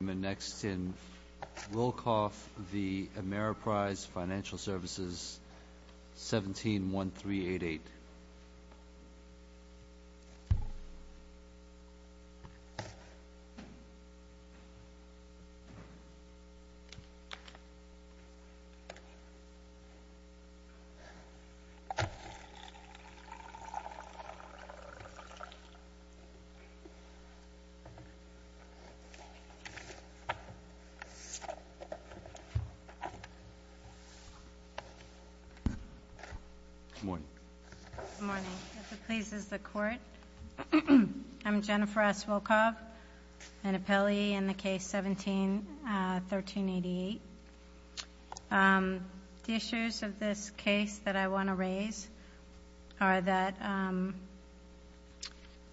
Next in Wilkoff v. Ameriprise Financial Services, 171388. I'm Jennifer S. Wilkoff, an appellee in the case 171388. The issues of this case that I want to raise are that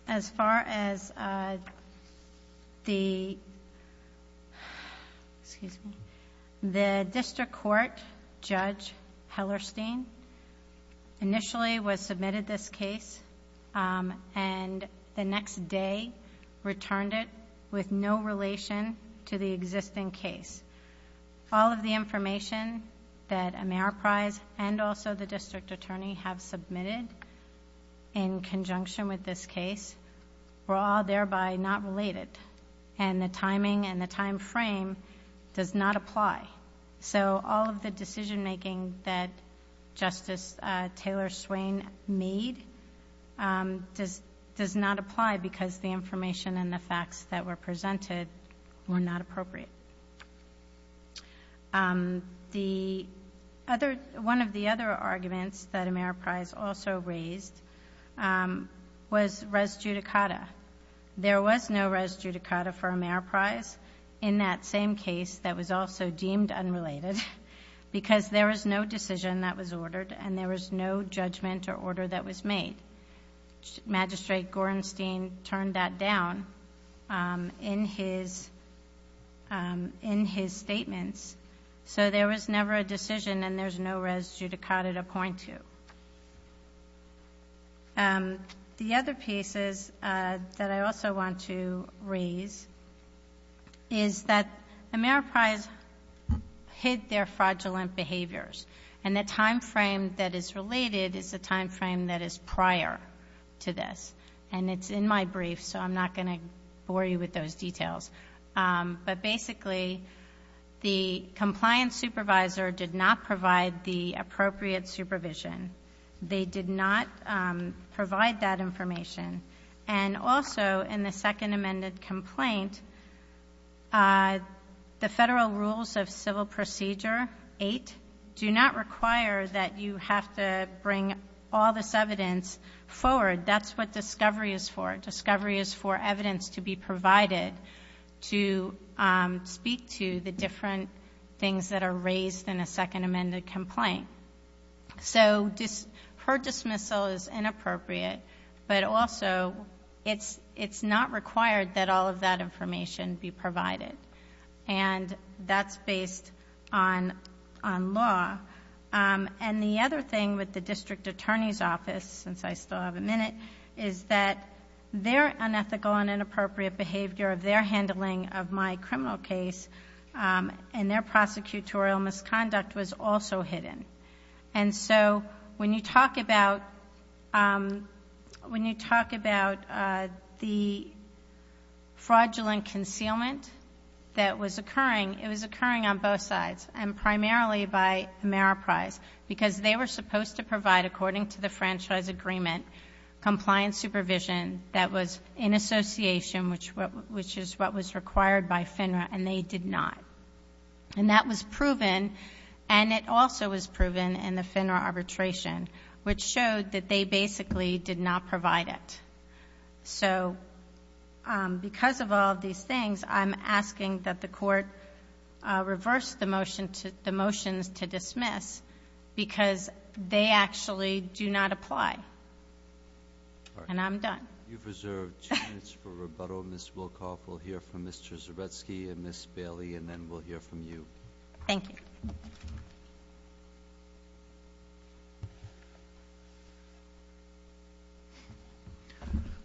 as far as the... excuse me... the District Court Judge Hellerstein initially was submitted this case and the next day returned it with no relation to the existing case. All of the information that Ameriprise and also the District Attorney have submitted in conjunction with this case were all thereby not related and the timing and the time frame does not apply. So all of the decision making that Justice Taylor Swain made does not apply because the facts that were presented were not appropriate. One of the other arguments that Ameriprise also raised was res judicata. There was no res judicata for Ameriprise in that same case that was also deemed unrelated because there was no decision that was ordered and there was no judgment or order that was made. Magistrate Gorenstein turned that down in his statements. So there was never a decision and there's no res judicata to point to. The other pieces that I also want to raise is that Ameriprise hid their fraudulent behaviors and the time frame that is related is the time frame that is prior to this and it's in my brief so I'm not going to bore you with those details. But basically the compliance supervisor did not provide the appropriate supervision. They did not provide that information and also in the second amended complaint, the you're not required that you have to bring all this evidence forward. That's what discovery is for. Discovery is for evidence to be provided to speak to the different things that are raised in a second amended complaint. So her dismissal is inappropriate but also it's not required that all of that information be provided and that's based on law. The other thing with the district attorney's office, since I still have a minute, is that their unethical and inappropriate behavior of their handling of my criminal case and their prosecutorial misconduct was also hidden. So when you talk about the fraudulent concealment that was occurring, it was occurring on both sides and primarily by Ameriprise because they were supposed to provide, according to the franchise agreement, compliance supervision that was in association, which is what was required by FINRA and they did not. And that was proven and it also was proven in the FINRA arbitration, which showed that they basically did not provide it. So because of all of these things, I'm asking that the court reverse the motions to dismiss because they actually do not apply. And I'm done. You've reserved two minutes for rebuttal. Ms. Wolkoff, we'll hear from Mr. Zaretsky and Ms. Bailey and then we'll hear from you. Thank you.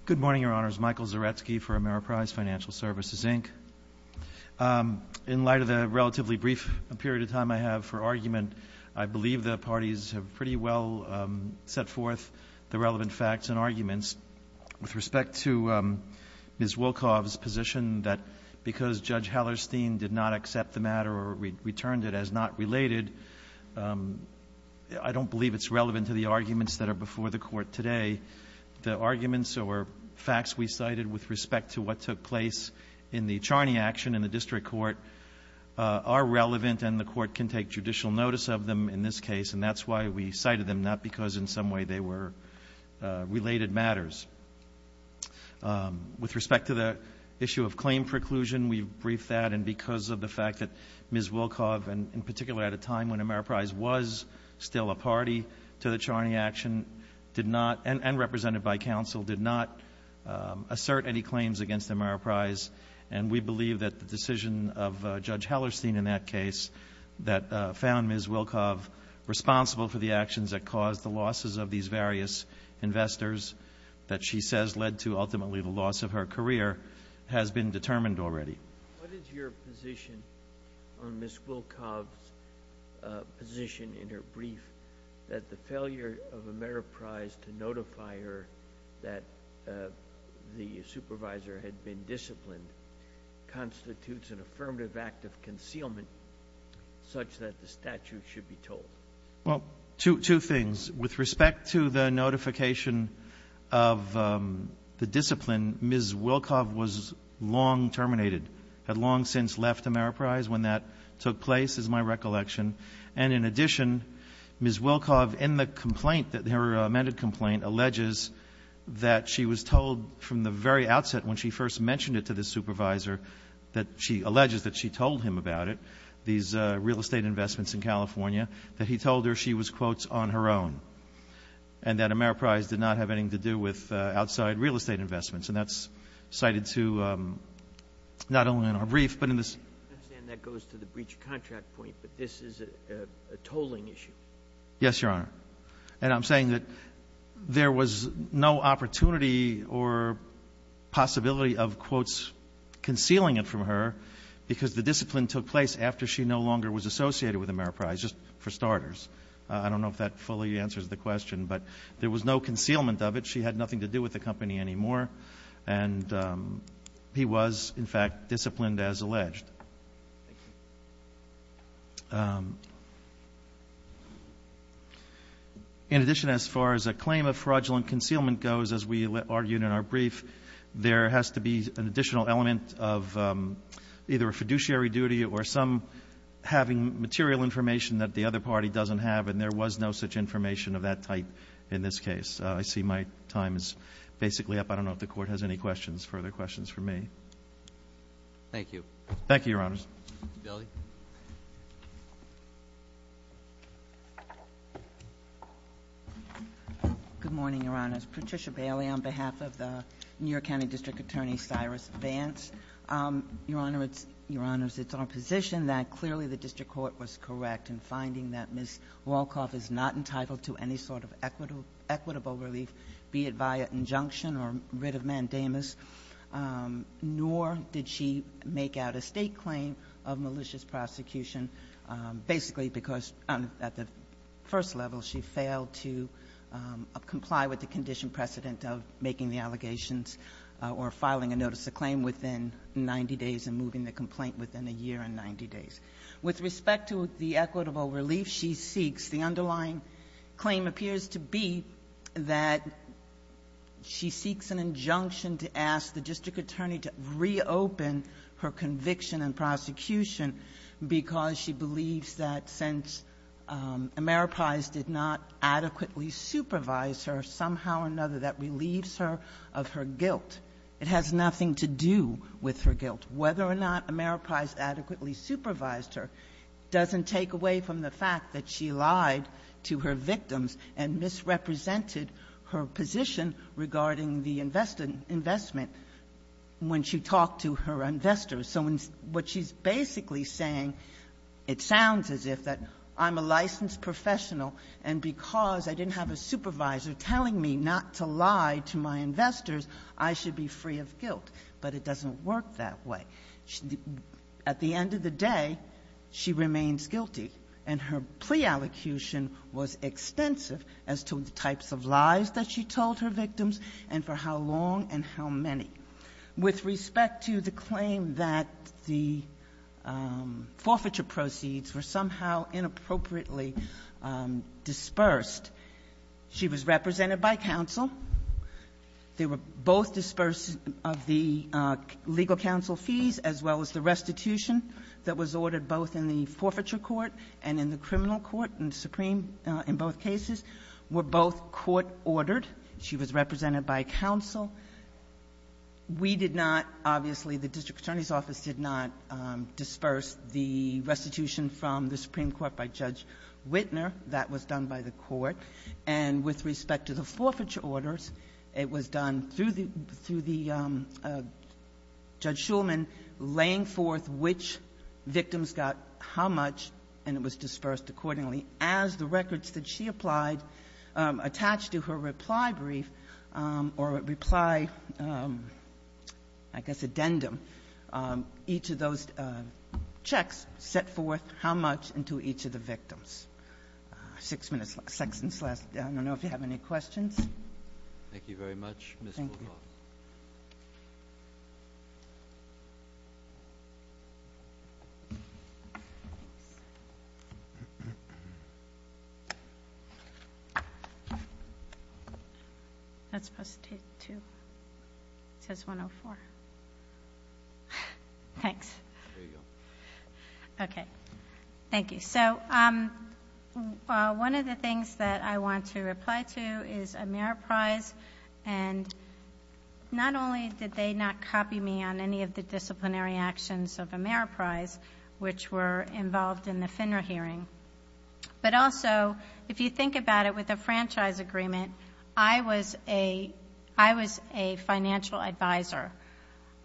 Good morning, Your Honors. Michael Zaretsky for Ameriprise Financial Services, Inc. In light of the relatively brief period of time I have for argument, I believe the parties have pretty well set forth the relevant facts and arguments. With respect to Ms. Wolkoff's position that because Judge Hallerstein did not accept the matter or returned it as not related, I don't believe it's relevant to the arguments that are before the Court today. The arguments or facts we cited with respect to what took place in the Charney action in the district court are relevant and the Court can take judicial notice of them in this case. And that's why we cited them, not because in some way they were related matters. With respect to the issue of claim preclusion, we've briefed that. And because of the fact that Ms. Wolkoff, in particular at a time when Ameriprise was still a party to the Charney action, did not, and represented by counsel, did not assert any claims against Ameriprise. And we believe that the decision of Judge Hallerstein in that case that found Ms. Wolkoff responsible for the actions that caused the losses of these various investors that she says led to ultimately the loss of her career has been determined already. What is your position on Ms. Wolkoff's position in her brief that the failure of Ameriprise to notify her that the supervisor had been disciplined constitutes an affirmative act of concealment such that the statute should be told? Well, two things. With respect to the notification of the discipline, Ms. Wolkoff was long terminated, had long since left Ameriprise when that took place, is my recollection. And in addition, Ms. Wolkoff, in the complaint, her amended complaint, alleges that she was told from the very outset when she first mentioned it to the supervisor, that she alleges that she told him about it, these real estate investments in California, that he told her she was, quotes, on her own, and that Ameriprise did not have anything to do with outside real estate investments. And that's cited to, not only in our brief, but in this. I understand that goes to the breach of contract point, but this is a tolling issue. Yes, Your Honor. And I'm saying that there was no opportunity or possibility of, quotes, concealing it from her because the discipline took place after she no longer was associated with Ameriprise, just for starters. I don't know if that fully answers the question, but there was no concealment of it. She had nothing to do with the company anymore. And he was, in fact, disciplined as alleged. In addition, as far as a claim of fraudulent concealment goes, as we argued in our brief, there has to be an additional element of either a fiduciary duty or some having material information that the other party doesn't have, and there was no such information of that type in this case. I see my time is basically up. I don't know if the Court has any questions, further questions for me. Thank you. Thank you, Your Honors. Ms. Daly. Good morning, Your Honors. Patricia Bailey on behalf of the New York County District Attorney, Cyrus Vance. Your Honors, it's our position that clearly the district court was correct in finding that Ms. Wolkoff is not entitled to any sort of equitable relief, be it via injunction or writ of mandamus, nor did she make out a State claim of malicious prosecution, basically because at the first level she failed to comply with the condition precedent of making the allegations or filing a notice of claim within 90 days and moving the complaint within a year and 90 days. With respect to the equitable relief she seeks, the underlying claim appears to be that she seeks an injunction to ask the district attorney to reopen her conviction and prosecution because she believes that since Ameriprise did not adequately supervise her, somehow or another that relieves her of her guilt. It has nothing to do with her guilt. Whether or not Ameriprise adequately supervised her doesn't take away from the fact that she lied to her victims and misrepresented her position regarding the investment when she talked to her investors. So what she's basically saying, it sounds as if that I'm a licensed professional and because I didn't have a supervisor telling me not to lie to my investors, I should be free of guilt, but it doesn't work that way. At the end of the day, she remains guilty and her plea allocution was extensive as to the types of lies that she told her victims and for how long and how many. With respect to the claim that the forfeiture proceeds were somehow inappropriately dispersed, she was represented by counsel. They were both disbursed of the legal counsel fees as well as the restitution that was ordered both in the forfeiture court and in the criminal court and supreme in both cases were both court-ordered. She was represented by counsel. We did not, obviously, the district attorney's office did not disperse the restitution from the Supreme Court by Judge Wittner. That was done by the court. And with respect to the forfeiture orders, it was done through the Judge Shulman laying forth which victims got how much and it was dispersed accordingly as the records that she applied attached to her reply brief or reply, I guess, addendum. Each of those checks set forth how much into each of the victims. Six minutes left, I don't know if you have any questions. Thank you very much, Ms. Wolff. Thank you. That's supposed to take two, it says 104. Thanks. There you go. Okay, thank you. So one of the things that I want to reply to is Ameriprise and not only did they not copy me on any of the disciplinary actions of Ameriprise which were involved in the FINRA hearing, but also if you think about it with the franchise agreement, I was a financial advisor.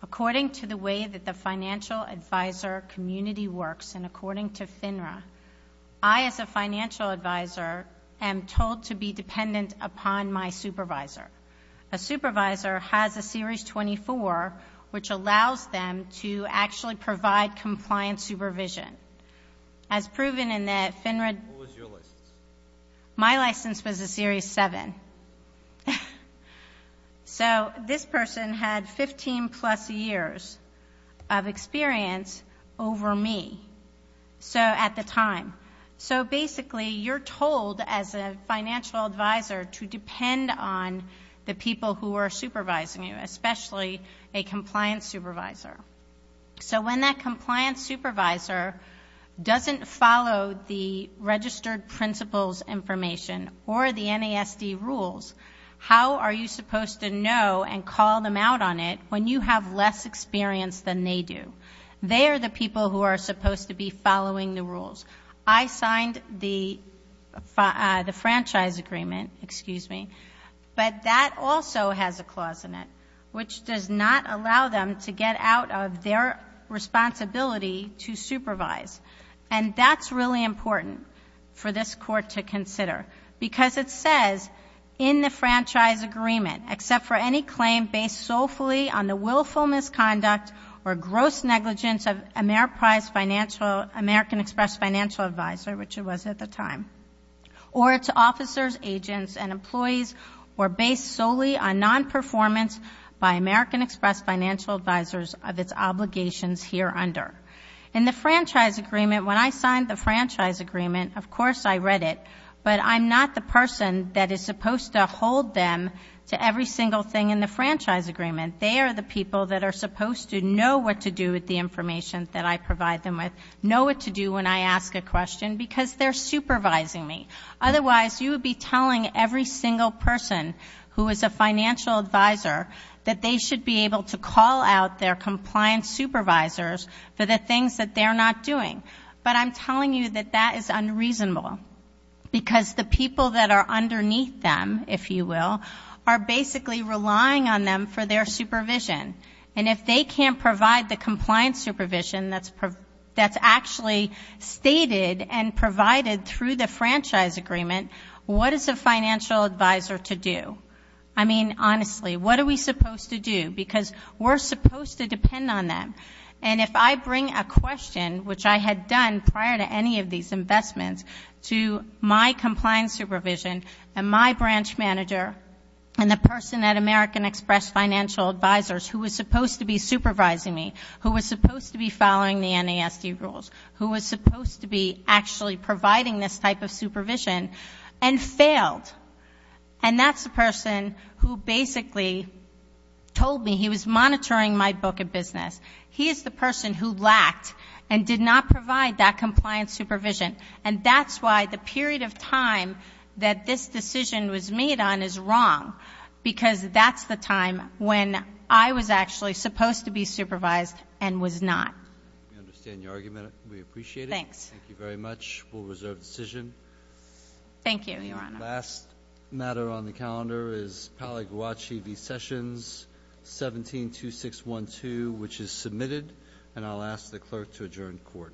According to the way that the financial advisor community works and according to FINRA, I as a financial advisor am told to be dependent upon my supervisor. A supervisor has a series 24 which allows them to actually provide compliance supervision. As proven in the FINRA... What was your license? My license was a series 7. Okay. So this person had 15 plus years of experience over me at the time. So basically, you're told as a financial advisor to depend on the people who are supervising you, especially a compliance supervisor. So when that compliance supervisor doesn't follow the registered principles information or the NASD rules, how are you supposed to know and call them out on it when you have less experience than they do? They are the people who are supposed to be following the rules. I signed the franchise agreement, but that also has a clause in it which does not allow them to get out of their responsibility to supervise. And that's really important for this court to consider because it says, in the franchise agreement, except for any claim based solely on the willful misconduct or gross negligence of AmeriPrize Financial, American Express Financial Advisor, which it was at the time, or its officers, agents, and employees were based solely on non-performance by American Express Financial Advisors of its obligations here under. In the franchise agreement, when I signed the franchise agreement, of course I read it, but I'm not the person that is supposed to hold them to every single thing in the franchise agreement. They are the people that are supposed to know what to do with the information that I provide them with, know what to do when I ask a question because they're supervising me. Otherwise, you would be telling every single person who is a financial advisor that they should be able to call out their compliance supervisors for the things that they're not doing. But I'm telling you that that is unreasonable because the people that are underneath them, if you will, are basically relying on them for their supervision. And if they can't provide the compliance supervision that's actually stated and provided through the franchise agreement, what is a financial advisor to do? I mean, honestly, what are we supposed to do? Because we're supposed to depend on them. And if I bring a question, which I had done prior to any of these investments, to my compliance supervision and my branch manager and the person at American Express Financial Advisors who was supposed to be supervising me, who was supposed to be following the NASD rules, who was supposed to be actually providing this type of supervision, and failed. And that's the person who basically told me he was monitoring my book of business. He is the person who lacked and did not provide that compliance supervision. And that's why the period of time that this decision was made on is wrong. Because that's the time when I was actually supposed to be supervised and was not. We understand your argument. We appreciate it. Thanks. We'll reserve the decision. Thank you, Your Honor. The last matter on the calendar is Pali Guachi v. Sessions, 172612, which is submitted. And I'll ask the clerk to adjourn court.